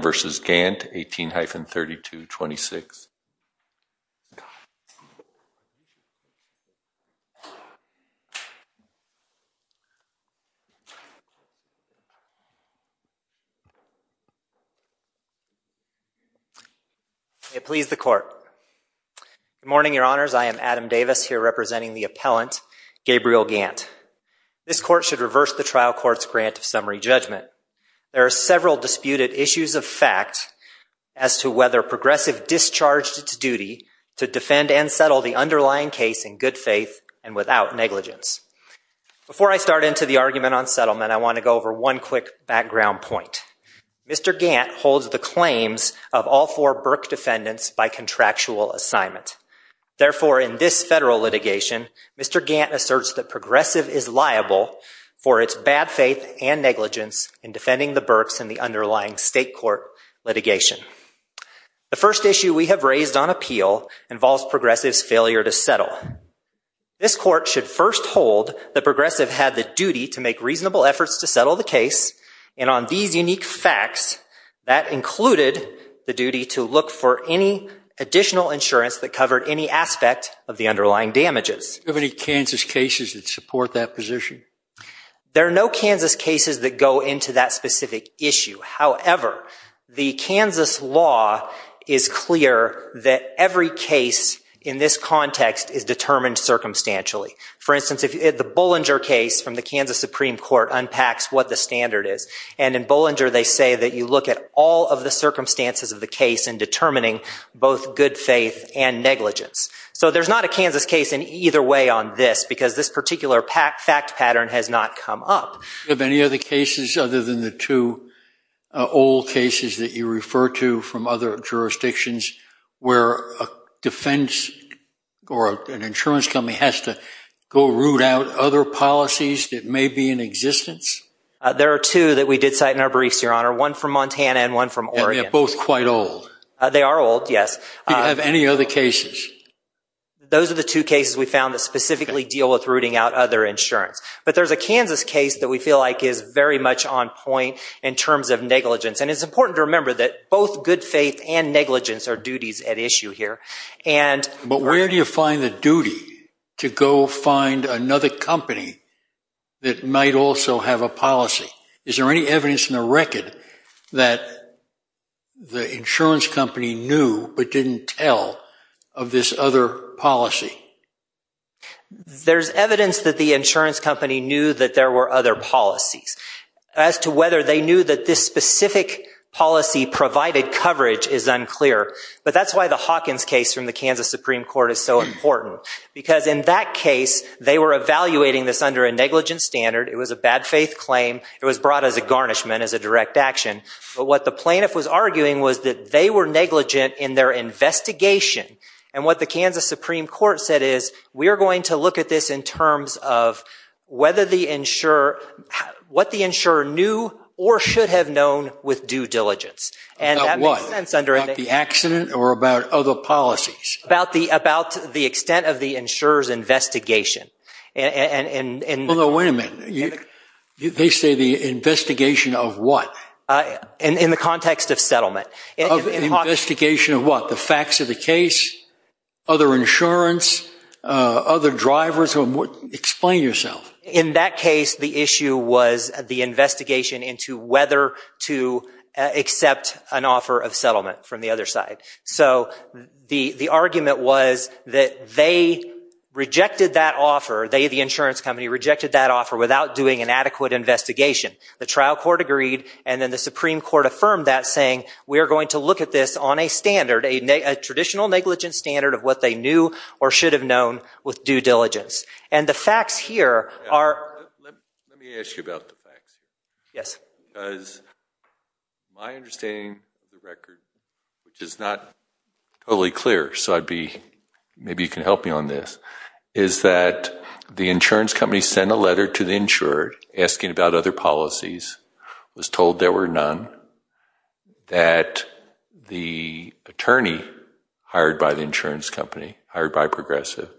v. Gant, 18-3226. May it please the court. Good morning, your honors. I am Adam Davis, here representing the appellant Gabriel Gant. This court should reverse the trial court's grant of summary judgment. There are several disputed issues of fact as to whether Progressive discharged its duty to defend and settle the underlying case in good faith and without negligence. Before I start into the argument on settlement, I want to go over one quick background point. Mr. Gant holds the claims of all four Burke defendants by contractual assignment. Therefore, in this federal litigation, Mr. Gant asserts that Progressive is liable for its bad faith and negligence in defending the Burkes in the underlying state court litigation. The first issue we have raised on appeal involves Progressive's failure to settle. This court should first hold that Progressive had the duty to make reasonable efforts to settle the case, and on these unique facts, that included the duty to look for any additional insurance that covered any aspect of the underlying damages. Are there any Kansas cases that support that position? There are no Kansas cases that go into that specific issue. However, the Kansas law is clear that every case in this context is determined circumstantially. For instance, the Bollinger case from the Kansas Supreme Court unpacks what the standard is, and in Bollinger they say that you look at all of the circumstances of the case in determining both good faith and negligence. So there's not a Kansas case in either way on this, because this particular fact pattern has not come up. Do you have any other cases other than the two old cases that you refer to from other jurisdictions where a defense or an insurance company has to go root out other policies that may be in existence? There are two that we did cite in our briefs, Your Honor, one from Montana and one from Oregon. And they're both quite old. They are old, yes. Do you have any other cases? Those are the two cases we found that specifically deal with rooting out other insurance. But there's a Kansas case that we feel like is very much on point in terms of negligence. And it's important to remember that both good faith and negligence are duties at issue here. But where do you find the duty to go find another company that might also have a policy? Is there any evidence in the record that the insurance company knew but didn't tell of this other policy? There's evidence that the insurance company knew that there were other policies. As to whether they knew that this specific policy provided coverage is unclear. But that's why the Hawkins case from the Kansas Supreme Court is so important. Because in that case, they were evaluating this under a negligence standard. It was a bad faith claim. It was brought as a garnishment, as a direct action. But what the plaintiff was arguing was that they were negligent in their investigation. And what the Kansas Supreme Court said is, we are going to look at this in terms of what the insurer knew or should have known with due diligence. About what? About the accident or about other policies? About the extent of the insurer's investigation. No, wait a minute. They say the investigation of what? In the context of settlement. Investigation of what? The facts of the case? Other insurance? Other drivers? Explain yourself. In that case, the issue was the investigation into whether to accept an offer of settlement from the other side. So the argument was that they rejected that offer. They, the insurance company, rejected that offer without doing an adequate investigation. The trial court agreed and then the Supreme Court affirmed that saying, we are going to look at this on a standard, a traditional negligence standard of what they knew or should have known with due diligence. And the facts here are... Let me ask you about the facts. Yes. Because my understanding of the record, which is not totally clear, so maybe you can help me on this, is that the insurance company sent a letter to the insured asking about other policies, was told there were none, that the attorney hired by the insurance company, hired by Progressive,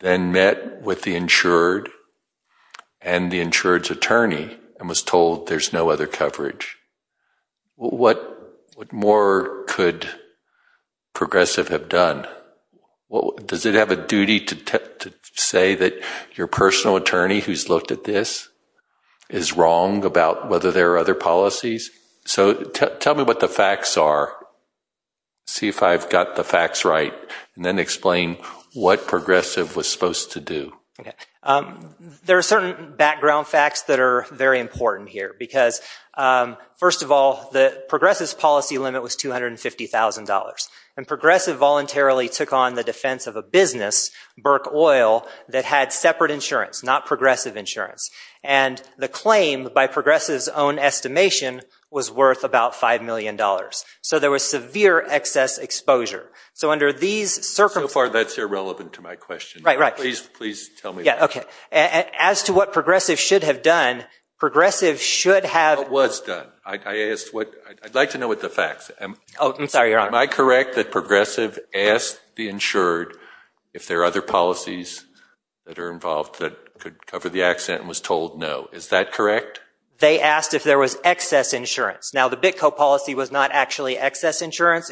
then met with the insured and the insured's attorney and was told there's no other coverage. What more could Progressive have done? Does it have a duty to say that your personal attorney who's looked at this is wrong about whether there are other policies? So tell me what the facts are. See if I've got the facts right and then explain what Progressive was supposed to do. There are certain background facts that are very important here because, first of all, the Progressive's policy limit was $250,000. And Progressive voluntarily took on the defense of a business, Burke Oil, that had separate insurance, not Progressive insurance. And the claim by Progressive's own estimation was worth about $5 million. So there was severe excess exposure. So under these circumstances... So far that's irrelevant to my question. Right, right. Please, please tell me. Yeah, okay. As to what Progressive should have done, Progressive should have... Was done. I'd like to know what the facts are. Oh, I'm sorry, Your Honor. Am I correct that Progressive asked the insured if there are other policies that are involved that could cover the accident and was told no? Is that correct? They asked if there was excess insurance. Now the BitCo policy was not actually excess insurance.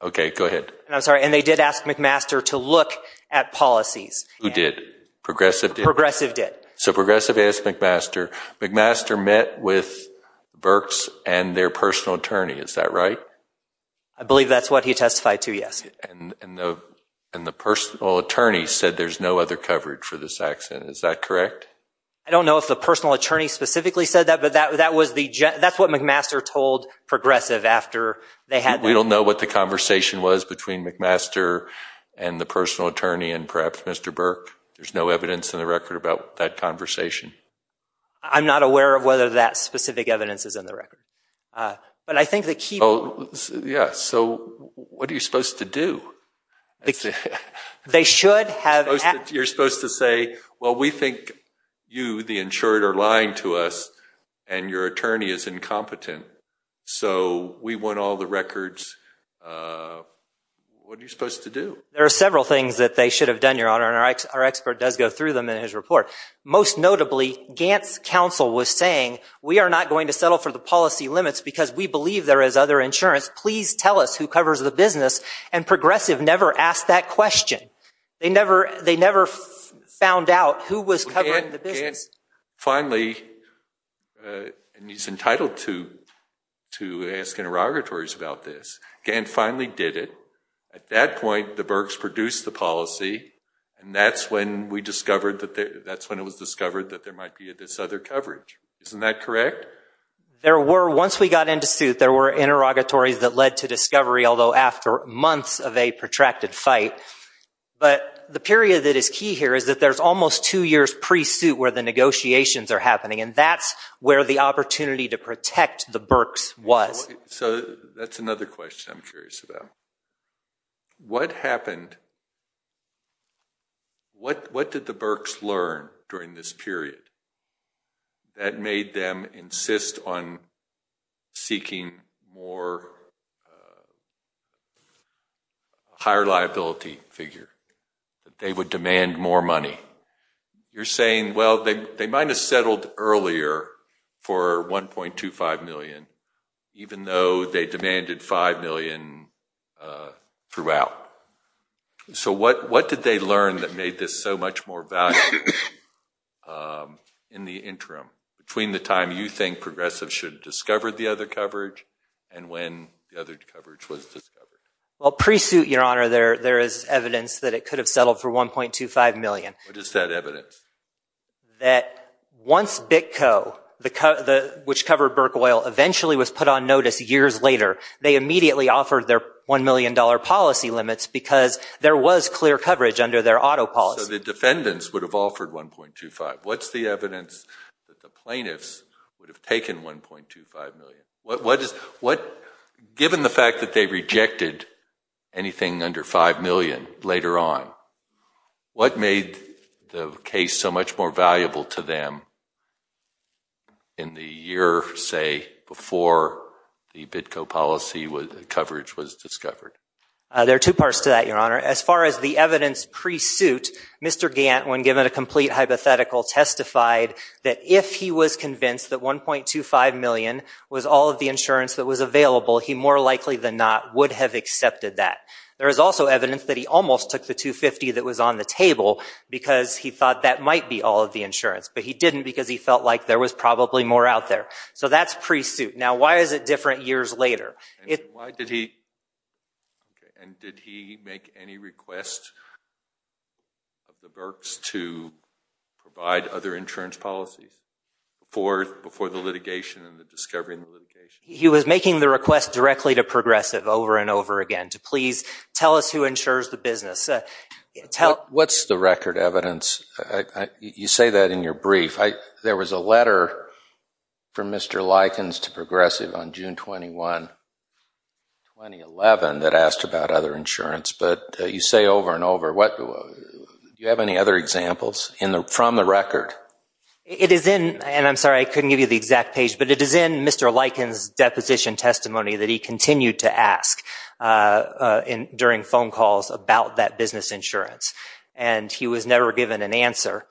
Okay, go ahead. I'm sorry. And they did ask McMaster to look at policies. Who did? Progressive did? Progressive did. So Progressive asked McMaster. McMaster met with Burke's and their personal attorney. Is that right? I believe that's what he testified to, yes. And the personal attorney said there's no other coverage for this accident. Is that correct? I don't know if the personal attorney specifically said that, but that's what McMaster told Progressive after they had... We don't know what the conversation was between McMaster and the personal attorney and perhaps Mr. Burke. There's no evidence in the record about that conversation. I'm not aware of whether that specific evidence is in the record. But I think the key... Yeah, so what are you supposed to do? They should have... You're supposed to say, well, we think you, the insured, are lying to us and your attorney is incompetent. So we want all the records. What are you supposed to do? There are several things that they should have done, Your Honor, and our expert does go through them in his report. Most notably, Gant's counsel was saying, we are not going to settle for the policy limits because we believe there is other insurance. Please tell us who covers the business. And Progressive never asked that question. They never found out who was covering the business. Finally, and he's entitled to ask interrogatories about this, Gant finally did it. At that point, the Burks produced the policy and that's when it was discovered that there might be this other coverage. Isn't that correct? There were, once we got into suit, there were interrogatories that led to discovery, although after months of a protracted fight. But the period that is key here is that there's almost two years pre-suit where the negotiations are happening and that's where the opportunity to protect the Burks was. So that's another question I'm curious about. What happened, what did the Burks learn during this period that made them insist on seeking more, a higher liability figure, that they would demand more money? You're saying, well, they might have settled earlier for 1.25 million even though they demanded 5 million throughout. So what did they learn that made this so much more valuable in the interim, between the time you think Progressive should have discovered the other coverage and when the other coverage was discovered? Well, pre-suit, Your Honor, there is evidence that it could have settled for 1.25 million. What is that evidence? That once BITCO, which covered Burke Oil, eventually was put on notice years later, they immediately offered their $1 million policy limits because there was clear coverage under their auto policy. So the defendants would have offered 1.25. What's the evidence that the plaintiffs would have taken 1.25 million? Given the fact that they rejected anything under 5 million later on, what made the case so much more valuable to them in the year, say, before the BITCO policy coverage was discovered? There are two parts to that, Your Honor. As far as the evidence pre-suit, Mr. Gant, when he was convinced that 1.25 million was all of the insurance that was available, he more likely than not would have accepted that. There is also evidence that he almost took the 250 that was on the table because he thought that might be all of the insurance, but he didn't because he felt like there was probably more out there. So that's pre-suit. Now, why is it different years later? And did he make any request of the Berks to provide other insurance policies before the litigation and the discovery of the litigation? He was making the request directly to Progressive over and over again to please tell us who insures the business. What's the record evidence? You say that in your brief. There was a letter from Mr. Likens to Progressive on June 21, 2011, that asked about other insurance. But you say over and over, do you have any other examples from the record? It is in, and I'm sorry, I couldn't give you the exact page, but it is in Mr. Likens' deposition testimony that he continued to ask during phone calls about that business insurance, and he was never given an answer.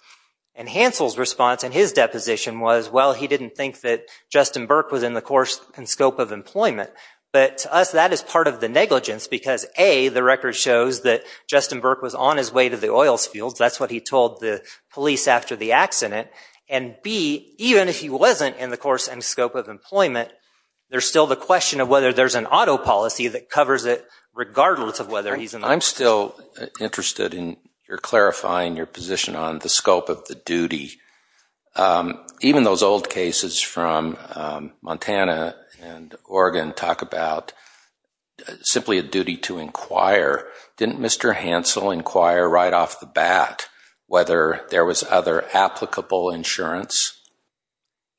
And Hansel's response in his deposition was, well, he didn't think that Justin Burke was in the course and scope of employment. But to us, that is part of the negligence because, A, the record shows that Justin Burke was on his way to the oils fields. That's what he told the police after the accident. And, B, even if he wasn't in the course and scope of employment, there's still the question of whether there's an auto policy that covers it regardless of whether he's in the business. I'm still interested in your clarifying your position on the scope of the duty. Even those old cases from Montana and Oregon talk about simply a duty to inquire. Didn't Mr. Hansel inquire right off the bat whether there was other applicable insurance?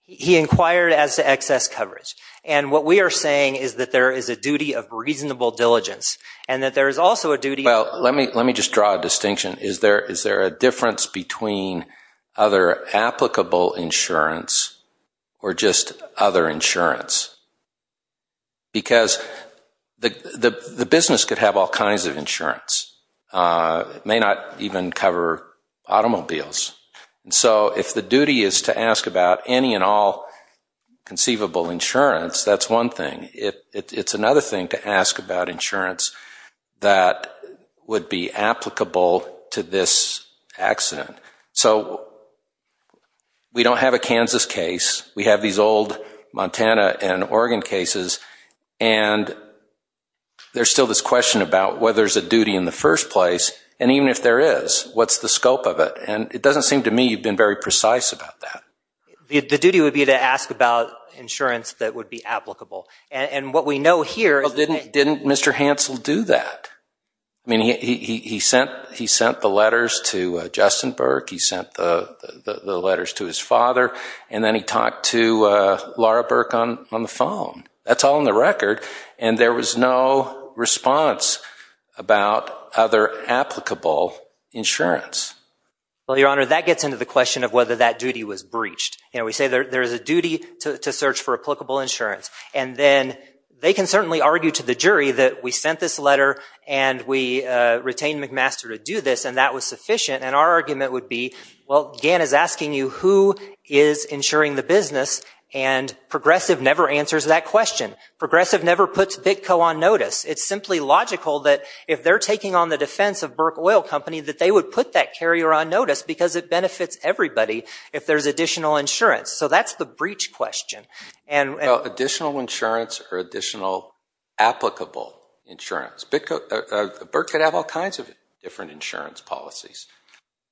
He inquired as to excess coverage. And what we are saying is that there is a duty of reasonable diligence and that there is also a duty of... or just other insurance. Because the business could have all kinds of insurance. It may not even cover automobiles. So if the duty is to ask about any and all conceivable insurance, that's one thing. It's another thing to ask about insurance that would be applicable to this accident. So we don't have a Kansas case. We have these old Montana and Oregon cases. And there's still this question about whether there's a duty in the first place. And even if there is, what's the scope of it? And it doesn't seem to me you've been very precise about that. The duty would be to ask about insurance that would be applicable. And what we know here... Didn't Mr. Hansel do that? I mean, he sent the letters to Justin Burke. He sent the letters to his father. And then he talked to Laura Burke on the phone. That's all in the record. And there was no response about other applicable insurance. Well, Your Honor, that gets into the question of whether that duty was breached. You know, we say there is a duty to search for applicable insurance. And then they can certainly argue to the jury that we sent this letter and we retained McMaster to do this and that was sufficient. And our argument would be, well, Gann is asking you who is insuring the business and Progressive never answers that question. Progressive never puts BitCo on notice. It's simply logical that if they're taking on the defense of Burke Oil Company that they would put that carrier on notice because it benefits everybody if there's additional insurance. So that's the breach question. Well, additional insurance or additional applicable insurance. Burke could have all kinds of different insurance policies.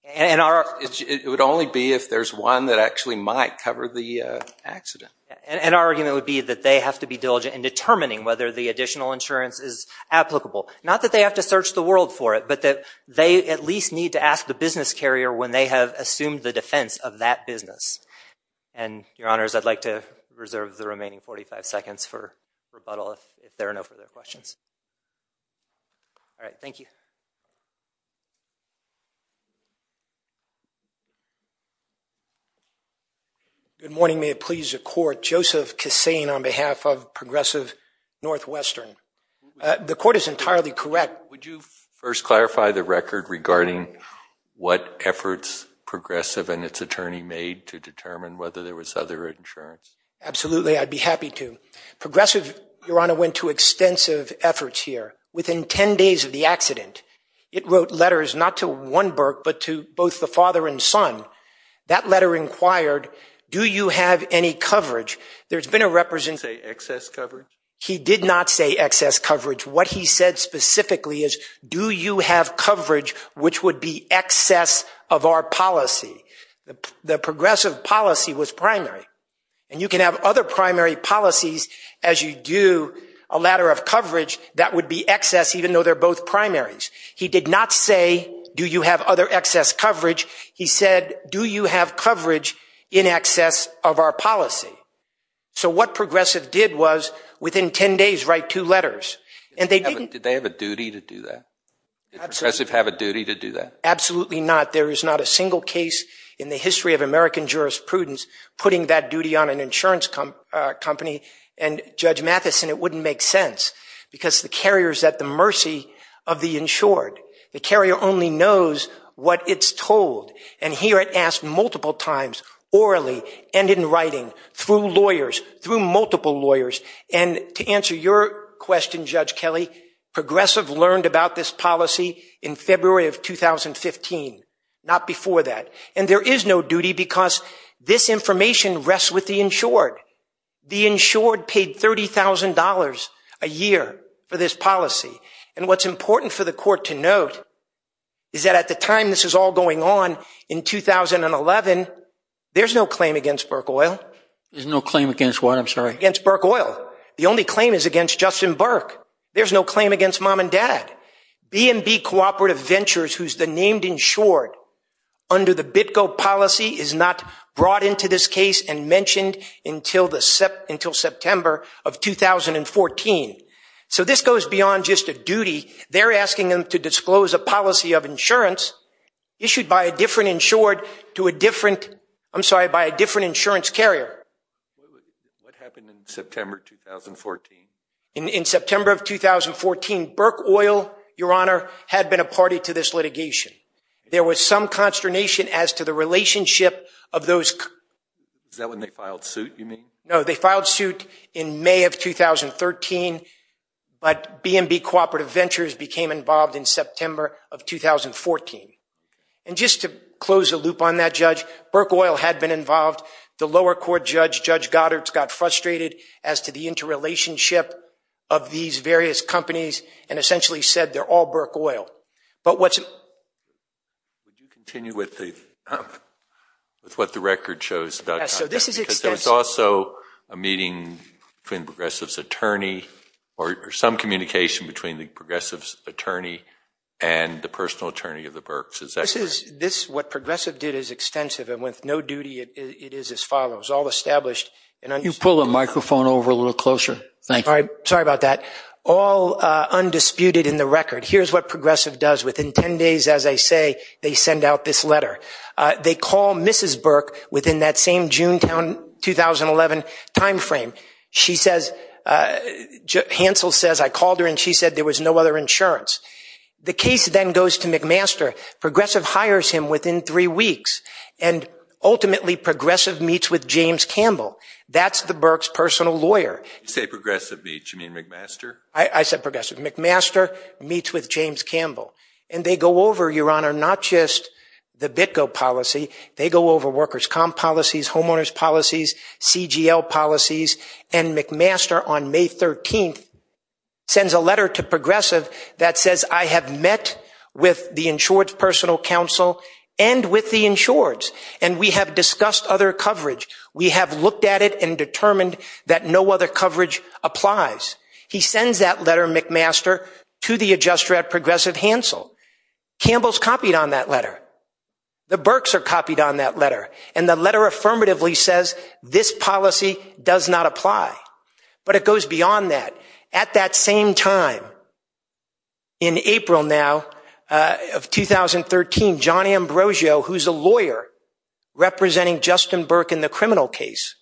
It would only be if there's one that actually might cover the accident. And our argument would be that they have to be diligent in determining whether the additional insurance is applicable. Not that they have to search the world for it, but that they at least need to ask the business carrier when they have assumed the defense of that We'll reserve the remaining 45 seconds for rebuttal if there are no further questions. All right. Thank you. Good morning. May it please the court. Joseph Kassane on behalf of Progressive Northwestern. The court is entirely correct. Would you first clarify the record regarding what efforts Progressive and its attorney made to determine whether there was other insurance? Absolutely. I'd be happy to. Progressive, Your Honor, went to extensive efforts here. Within 10 days of the accident, it wrote letters not to one Burke, but to both the father and son. That letter inquired, do you have any coverage? There's been a representative. Did he say excess coverage? He did not say excess coverage. What he said specifically is, do you have coverage which would be excess of our policy? The Progressive policy was primary. You can have other primary policies as you do a ladder of coverage that would be excess even though they're both primaries. He did not say, do you have other excess coverage? He said, do you have coverage in excess of our policy? What Progressive did was, within 10 days, write two letters. Did they have a duty to do that? Did Progressive have a duty to do that? Absolutely not. There is not a single case in the history of American jurisprudence putting that duty on an insurance company. And Judge Matheson, it wouldn't make sense because the carrier is at the mercy of the insured. The carrier only knows what it's told. And here it asked multiple times, orally and in writing, through lawyers, through multiple lawyers. And to answer your question, Judge Kelly, Progressive learned about this policy in February of 2015, not before that. And there is no duty because this information rests with the insured. The insured paid $30,000 a year for this policy. And what's important for the court to note is that at the time this is all going on, in 2011, there's no claim against Burke Oil. There's no claim against what? I'm sorry. Against Burke Oil. The only claim is against Justin Burke. There's no claim against mom and dad. B&B Cooperative Ventures, who's the named insured under the BITCO policy, is not brought into this case and mentioned until September of 2014. So this goes beyond just a duty. They're asking them to disclose a policy of insurance issued by a different insured to a different, I'm sorry, by a different insurance carrier. What happened in September 2014? In September of 2014, Burke Oil, Your Honor, had been a party to this litigation. There was some consternation as to the relationship of those... Is that when they filed suit, you mean? No, they filed suit in May of 2013, but B&B Cooperative Ventures became involved in September of 2014. And just to close the loop on that, Judge, Burke Oil had been involved. The lower court judge, Judge Goddard, got frustrated as to the interrelationship of these various companies and essentially said they're all Burke Oil. But what's... Would you continue with what the record shows about conduct? Yes, so this is extensive. Because there's also a meeting between the progressive's attorney, or some communication between the progressive's attorney and the personal attorney of the Burkes, is that correct? This is... What progressive did is extensive and with no duty, it is as follows. All established and... You pull the microphone over a little closer. Thank you. Sorry about that. All undisputed in the record. Here's what progressive does. Within 10 days, as I say, they send out this letter. They call Mrs. Burke within that same Junetown 2011 timeframe. She says, Hansel says, I called her and she said there was no other insurance. The case then goes to McMaster. Progressive hires him within three weeks. And ultimately, progressive meets with James Campbell. That's the Burke's personal lawyer. You say progressive meets, you mean McMaster? I said progressive. McMaster meets with James Campbell. And they go over, Your Honor, not just the BitGo policy. They go over workers' comp policies, homeowners' policies, CGL policies. And McMaster, on May 13th, sends a letter to progressive that says, I have met with the insured's personal counsel and with the insured's. And we have discussed other coverage. We have looked at it and determined that no other coverage applies. He sends that letter, McMaster, to the adjuster at progressive Hansel. Campbell's copied on that letter. The Burke's are copied on that letter. And the letter affirmatively says, this policy does not apply. But it goes beyond that. At that same time, in April now of 2013, John Ambrosio, who's a lawyer representing Justin Burke in the criminal case,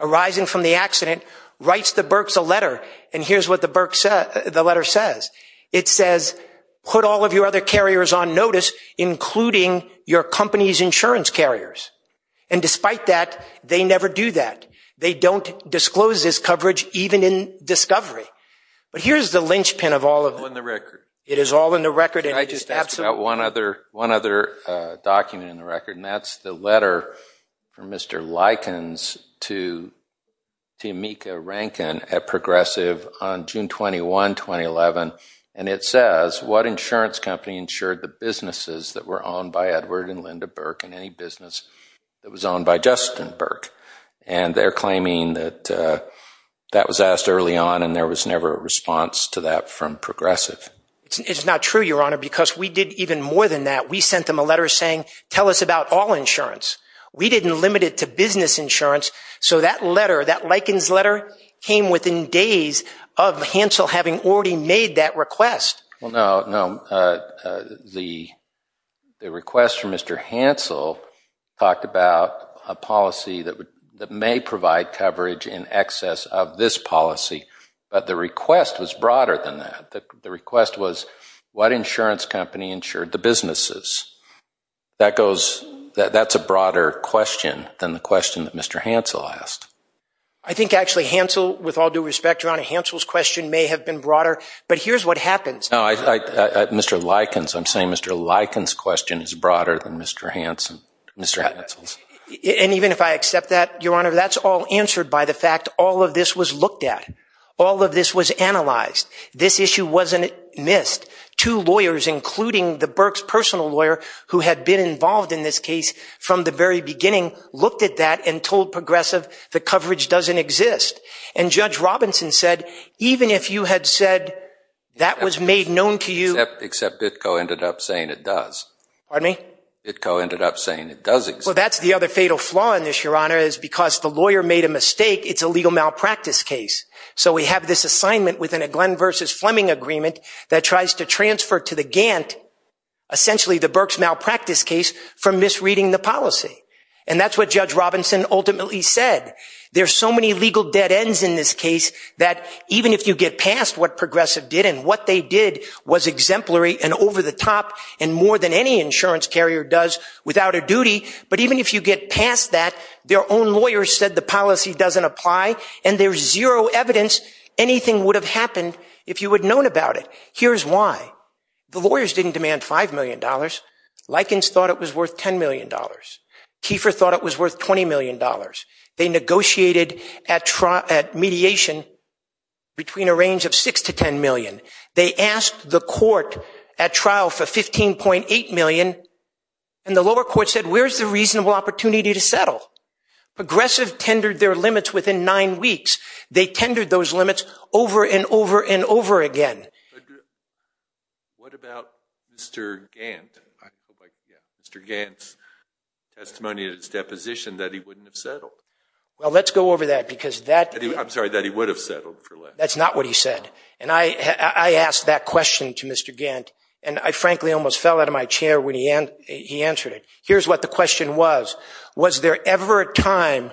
arising from the accident, writes the Burke's a letter. And here's what the letter says. It says, put all of your other carriers on notice, including your company's insurance carriers. And despite that, they never do that. They don't disclose this coverage, even in discovery. But here's the linchpin of all of it. It's all in the record. It is all in the record. Can I just ask about one other document in the record? And that's the letter from Mr. Likens to Tameka Rankin at Progressive on June 21, 2011. And it says, what insurance company insured the businesses that were owned by Edward and Linda Burke and any business that was owned by Justin Burke? And they're claiming that that was asked early on, and there was never a response to that from Progressive. It's not true, Your Honor, because we did even more than that. We sent them a letter saying, tell us about all insurance. We didn't limit it to business insurance. So that letter, that Likens letter, came within days of Hansel having already made that request. Well, no, the request from Mr. Hansel talked about a policy that may provide coverage in excess of this policy, but the request was broader than that. The request was, what insurance company insured the businesses? That goes, that's a broader question than the question that Mr. Hansel asked. I think actually Hansel, with all due respect, Your Honor, Hansel's question may have been broader, but here's what happens. Mr. Likens, I'm saying Mr. Likens' question is broader than Mr. Hansel's. And even if I accept that, Your Honor, that's all answered by the fact all of this was looked at. All of this was analyzed. This issue wasn't missed. Two lawyers, including the Burke's personal lawyer, who had been involved in this case from the very beginning, looked at that and told Progressive the coverage doesn't exist. And Judge Robinson said, even if you had said that was made known to you. Except Bitco ended up saying it does. Pardon me? Bitco ended up saying it does exist. Well, that's the other fatal flaw in this, Your Honor, is because the lawyer made a mistake. It's a legal malpractice case. So we have this assignment within a Glenn versus Fleming agreement that tries to transfer to the Gantt, essentially the Burke's malpractice case, from misreading the policy. And that's what Judge Robinson ultimately said. There's so many legal dead ends in this case that even if you get past what Progressive did, and what they did was exemplary and over the top, and more than any insurance carrier does without a duty. But even if you get past that, their own lawyers said the policy doesn't apply, and there's zero evidence anything would have happened if you had known about it. Here's why. The lawyers didn't demand $5 million. Likens thought it was worth $10 million. Kiefer thought it was worth $20 million. They negotiated at mediation between a range of $6 to $10 million. They asked the court at trial for $15.8 million, and the lower court said, where's the reasonable opportunity to settle? Progressive tendered their limits within nine weeks. They tendered those limits over and over and over again. What about Mr. Gantt? Mr. Gantt's testimony in his deposition that he wouldn't have settled. Well, let's go over that because that... I'm sorry, that he would have settled for less. That's not what he said. And I asked that question to Mr. Gantt, and I frankly almost fell out of my chair when he answered it. Here's what the question was. Was there ever a time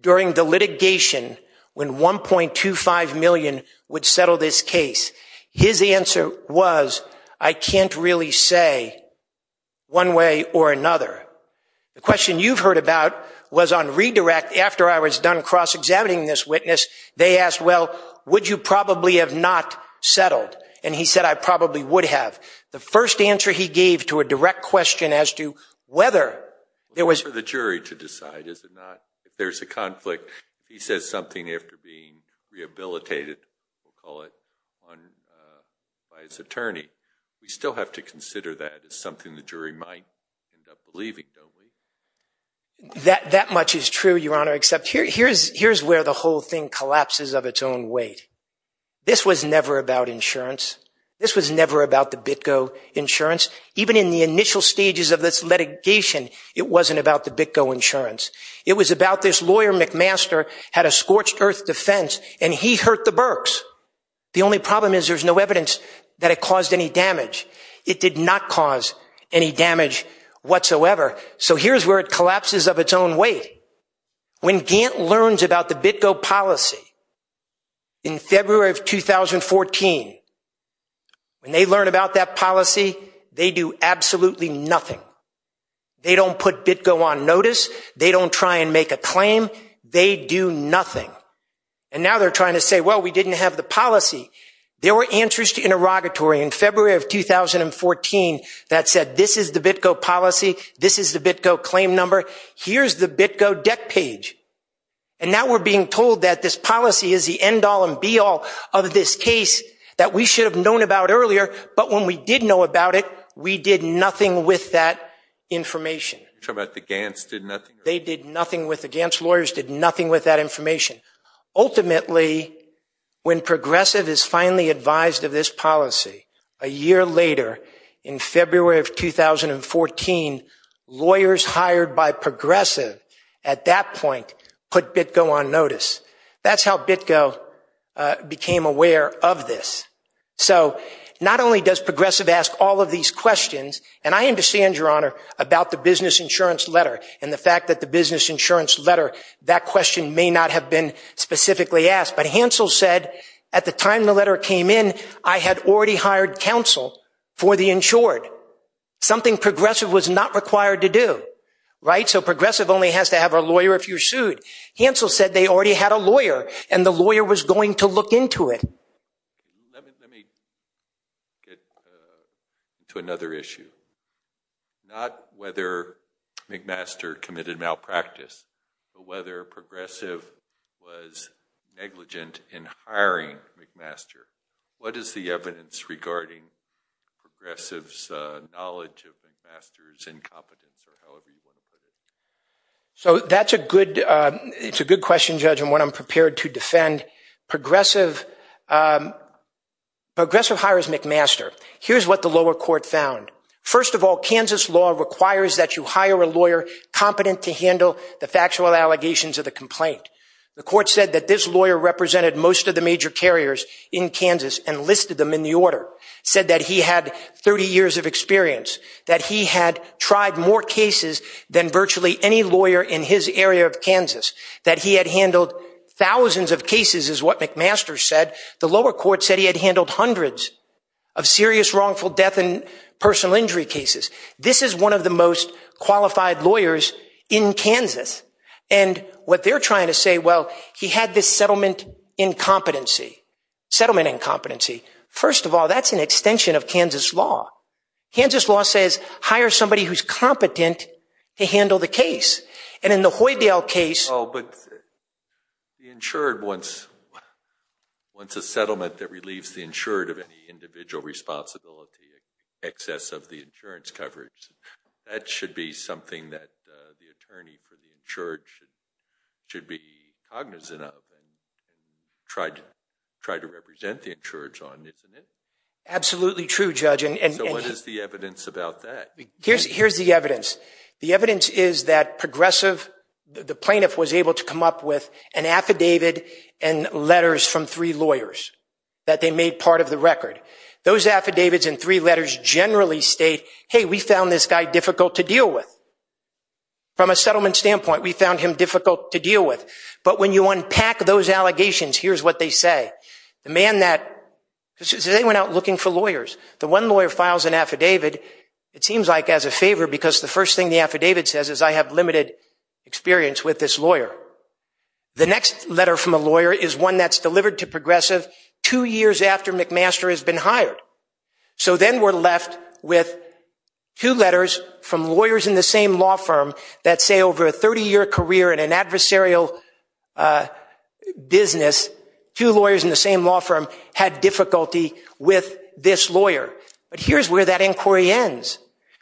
during the litigation when $1.25 million would settle this case? His answer was, I can't really say one way or another. The question you've heard about was on redirect. After I was done cross-examining this witness, they asked, well, would you probably have not settled? And he said, I probably would have. The first answer he gave to a direct question as to whether there was... For the jury to decide, is it not? If there's a conflict, if he says something after being rehabilitated, we'll call it, by his attorney, we still have to consider that as something the jury might end up believing, don't we? That much is true, Your Honour, except here's where the whole thing collapses of its own weight. This was never about insurance. This was never about the BitGo insurance. Even in the initial stages of this litigation, it wasn't about the BitGo insurance. It was about this lawyer, McMaster, had a scorched earth defence, and he hurt the Berks. The only problem is there's no evidence that it caused any damage. It did not cause any damage whatsoever. So here's where it collapses of its own weight. When Gant learns about the BitGo policy in February of 2014, when they learn about that policy, they do absolutely nothing. They don't put BitGo on notice. They don't try and make a claim. They do nothing. And now they're trying to say, well, we didn't have the policy. There were answers to interrogatory in February of 2014 that said this is the BitGo policy, this is the BitGo claim number, here's the BitGo deck page. And now we're being told that this policy is the end-all and be-all of this case that we should have known about earlier, but when we did know about it, we did nothing with that information. You're talking about the Gants did nothing? They did nothing with... The Gants lawyers did nothing with that information. Ultimately, when Progressive is finally advised of this policy, a year later in February of 2014, lawyers hired by Progressive at that point put BitGo on notice. That's how BitGo became aware of this. So not only does Progressive ask all of these questions, and I understand, Your Honour, about the business insurance letter and the fact that the business insurance letter, that question may not have been specifically asked, but Hansel said, at the time the letter came in, I had already hired counsel for the insured. Something Progressive was not required to do, right? So Progressive only has to have a lawyer if you're sued. Hansel said they already had a lawyer and the lawyer was going to look into it. Let me get to another issue. Not whether McMaster committed malpractice, but whether Progressive was negligent in hiring McMaster. What is the evidence regarding Progressive's knowledge of McMaster's incompetence? Or however you want to put it. So that's a good question, Judge, and one I'm prepared to defend. Progressive... Progressive hires McMaster. Here's what the lower court found. First of all, Kansas law requires that you hire a lawyer competent to handle the factual allegations of the complaint. The court said that this lawyer represented most of the major carriers in Kansas and listed them in the order. Said that he had 30 years of experience, that he had tried more cases than virtually any lawyer in his area of Kansas, that he had handled thousands of cases, is what McMaster said. The lower court said he had handled hundreds of serious, wrongful death and personal injury cases. This is one of the most qualified lawyers in Kansas. And what they're trying to say, well, he had this settlement incompetency. Settlement incompetency. First of all, that's an extension of Kansas law. Kansas law says hire somebody who's competent to handle the case. And in the Hoydale case... Oh, but the insured, once a settlement that relieves the insured of any individual responsibility, excess of the insurance coverage, that should be something that the attorney for the insured should be cognizant of and try to represent the insureds on, isn't it? Absolutely true, Judge. And so what is the evidence about that? Here's the evidence. The evidence is that the plaintiff was able to come up with an affidavit and letters from three lawyers that they made part of the record. Those affidavits and three letters generally state, hey, we found this guy difficult to deal with. From a settlement standpoint, we found him difficult to deal with. But when you unpack those allegations, here's what they say. The man that... Is anyone out looking for lawyers? The one lawyer files an affidavit, it seems like as a favor because the first thing the affidavit says is, I have limited experience with this lawyer. The next letter from a lawyer is one that's delivered to Progressive two years after McMaster has been hired. So then we're left with two letters from lawyers in the same law firm that say over a 30-year career in an adversarial business, two lawyers in the same law firm had difficulty with this lawyer. But here's where that inquiry ends.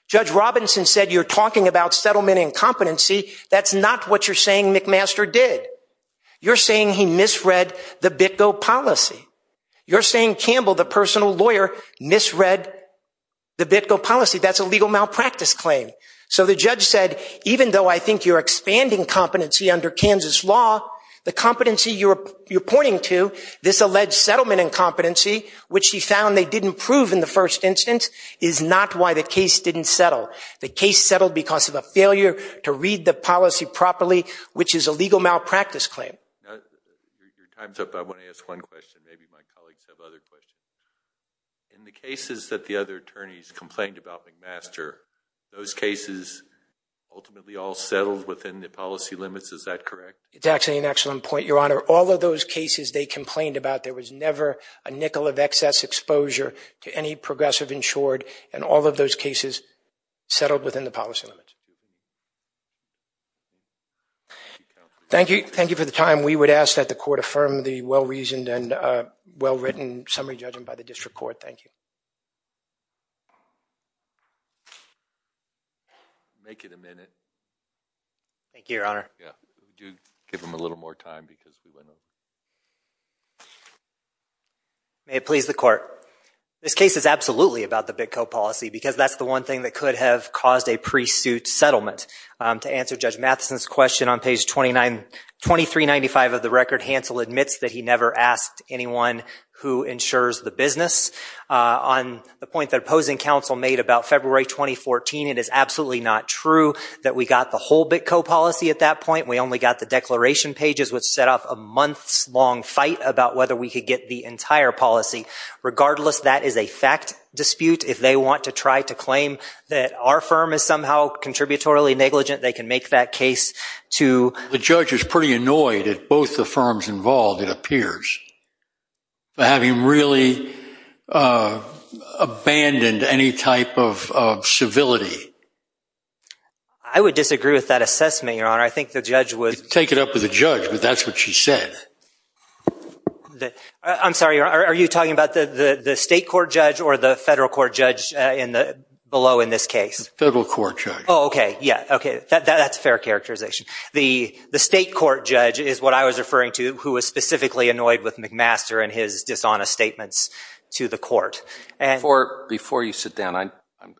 Judge Robinson said, you're talking about settlement incompetency. That's not what you're saying McMaster did. You're saying he misread the BitGo policy. You're saying Campbell, the personal lawyer, misread the BitGo policy. That's a legal malpractice claim. So the judge said, even though I think you're expanding competency under Kansas law, the competency you're pointing to, this alleged settlement incompetency, which he found they didn't prove in the first instance, is not why the case didn't settle. The case settled because of a failure to read the policy properly, which is a legal malpractice claim. Now, your time's up. I want to ask one question. Maybe my colleagues have other questions. In the cases that the other attorneys complained about McMaster, those cases ultimately all settled within the policy limits. Is that correct? It's actually an excellent point, Your Honor. All of those cases they complained about, there was never a nickel of excess exposure to any progressive insured. And all of those cases settled within the policy limits. Thank you. Thank you for the time. We would ask that the court affirm the well-reasoned and well-written summary judgment by the district court. Thank you. Make it a minute. Thank you, Your Honor. Yeah. Do give them a little more time, because we went over. May it please the court. This case is absolutely about the BitCo policy, because that's the one thing that could have caused a pre-suit settlement. To answer Judge Matheson's question on page 2395 of the record, Hansel admits that he never asked anyone who insures the business. On the point that opposing counsel made about February 2014, it is absolutely not true that we got the whole BitCo policy at that point. We only got the declaration pages, which set off a months-long fight about whether we could get the entire policy. Regardless, that is a fact dispute. If they want to try to claim that our firm is somehow contributorily negligent, they can make that case to. But have you really abandoned any type of civility? I would disagree with that assessment, Your Honor. I think the judge would. Take it up with the judge, but that's what she said. I'm sorry. Are you talking about the state court judge or the federal court judge below in this case? Federal court judge. Oh, OK. Yeah. OK. That's a fair characterization. The state court judge is what I was referring to, who was specifically annoyed with McMaster and his dishonest statements to the court. Before you sit down,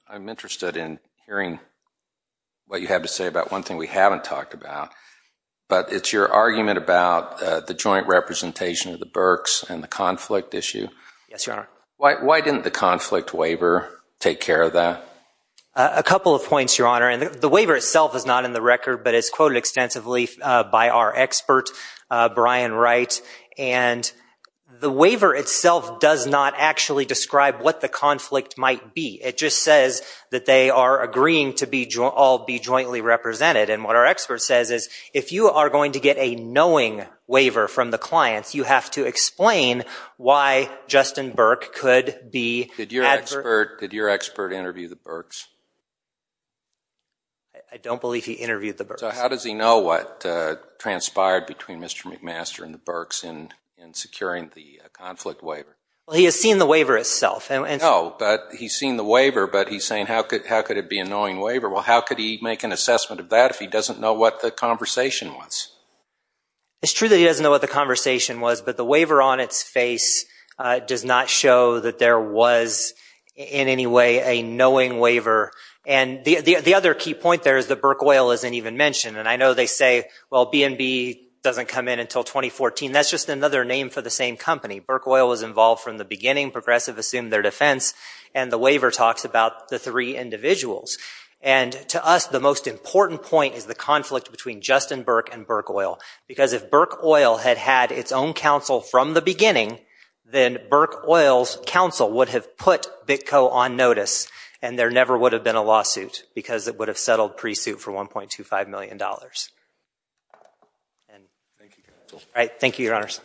I'm interested in hearing what you have to say about one thing we haven't talked about. But it's your argument about the joint representation of the Berks and the conflict issue. Yes, Your Honor. Why didn't the conflict waiver take care of that? A couple of points, Your Honor. And the waiver itself is not in the record, but it's quoted extensively by our expert, Brian Wright. And the waiver itself does not actually describe what the conflict might be. It just says that they are agreeing to all be jointly represented. And what our expert says is, if you are going to get a knowing waiver from the clients, you have to explain why Justin Berk could be advertised. Did your expert interview the Berks? I don't believe he interviewed the Berks. So how does he know what transpired between Mr. McMaster and the Berks in securing the conflict waiver? Well, he has seen the waiver itself. No, but he's seen the waiver, but he's saying, how could it be a knowing waiver? Well, how could he make an assessment of that if he doesn't know what the conversation was? It's true that he doesn't know what the conversation was, but the waiver on its face does not show that there was, in any way, a knowing waiver. And the other key point there is that Berk Oil isn't even mentioned. And I know they say, well, B&B doesn't come in until 2014. That's just another name for the same company. Berk Oil was involved from the beginning. Progressive assumed their defense. And the waiver talks about the three individuals. And to us, the most important point is the conflict between Justin Berk and Berk Oil. Because if Berk Oil had had its own counsel from the beginning, then Berk Oil's counsel would have put BitCo on notice, and there never would have been a lawsuit, because it would have settled pre-suit for $1.25 million. And thank you, Your Honors.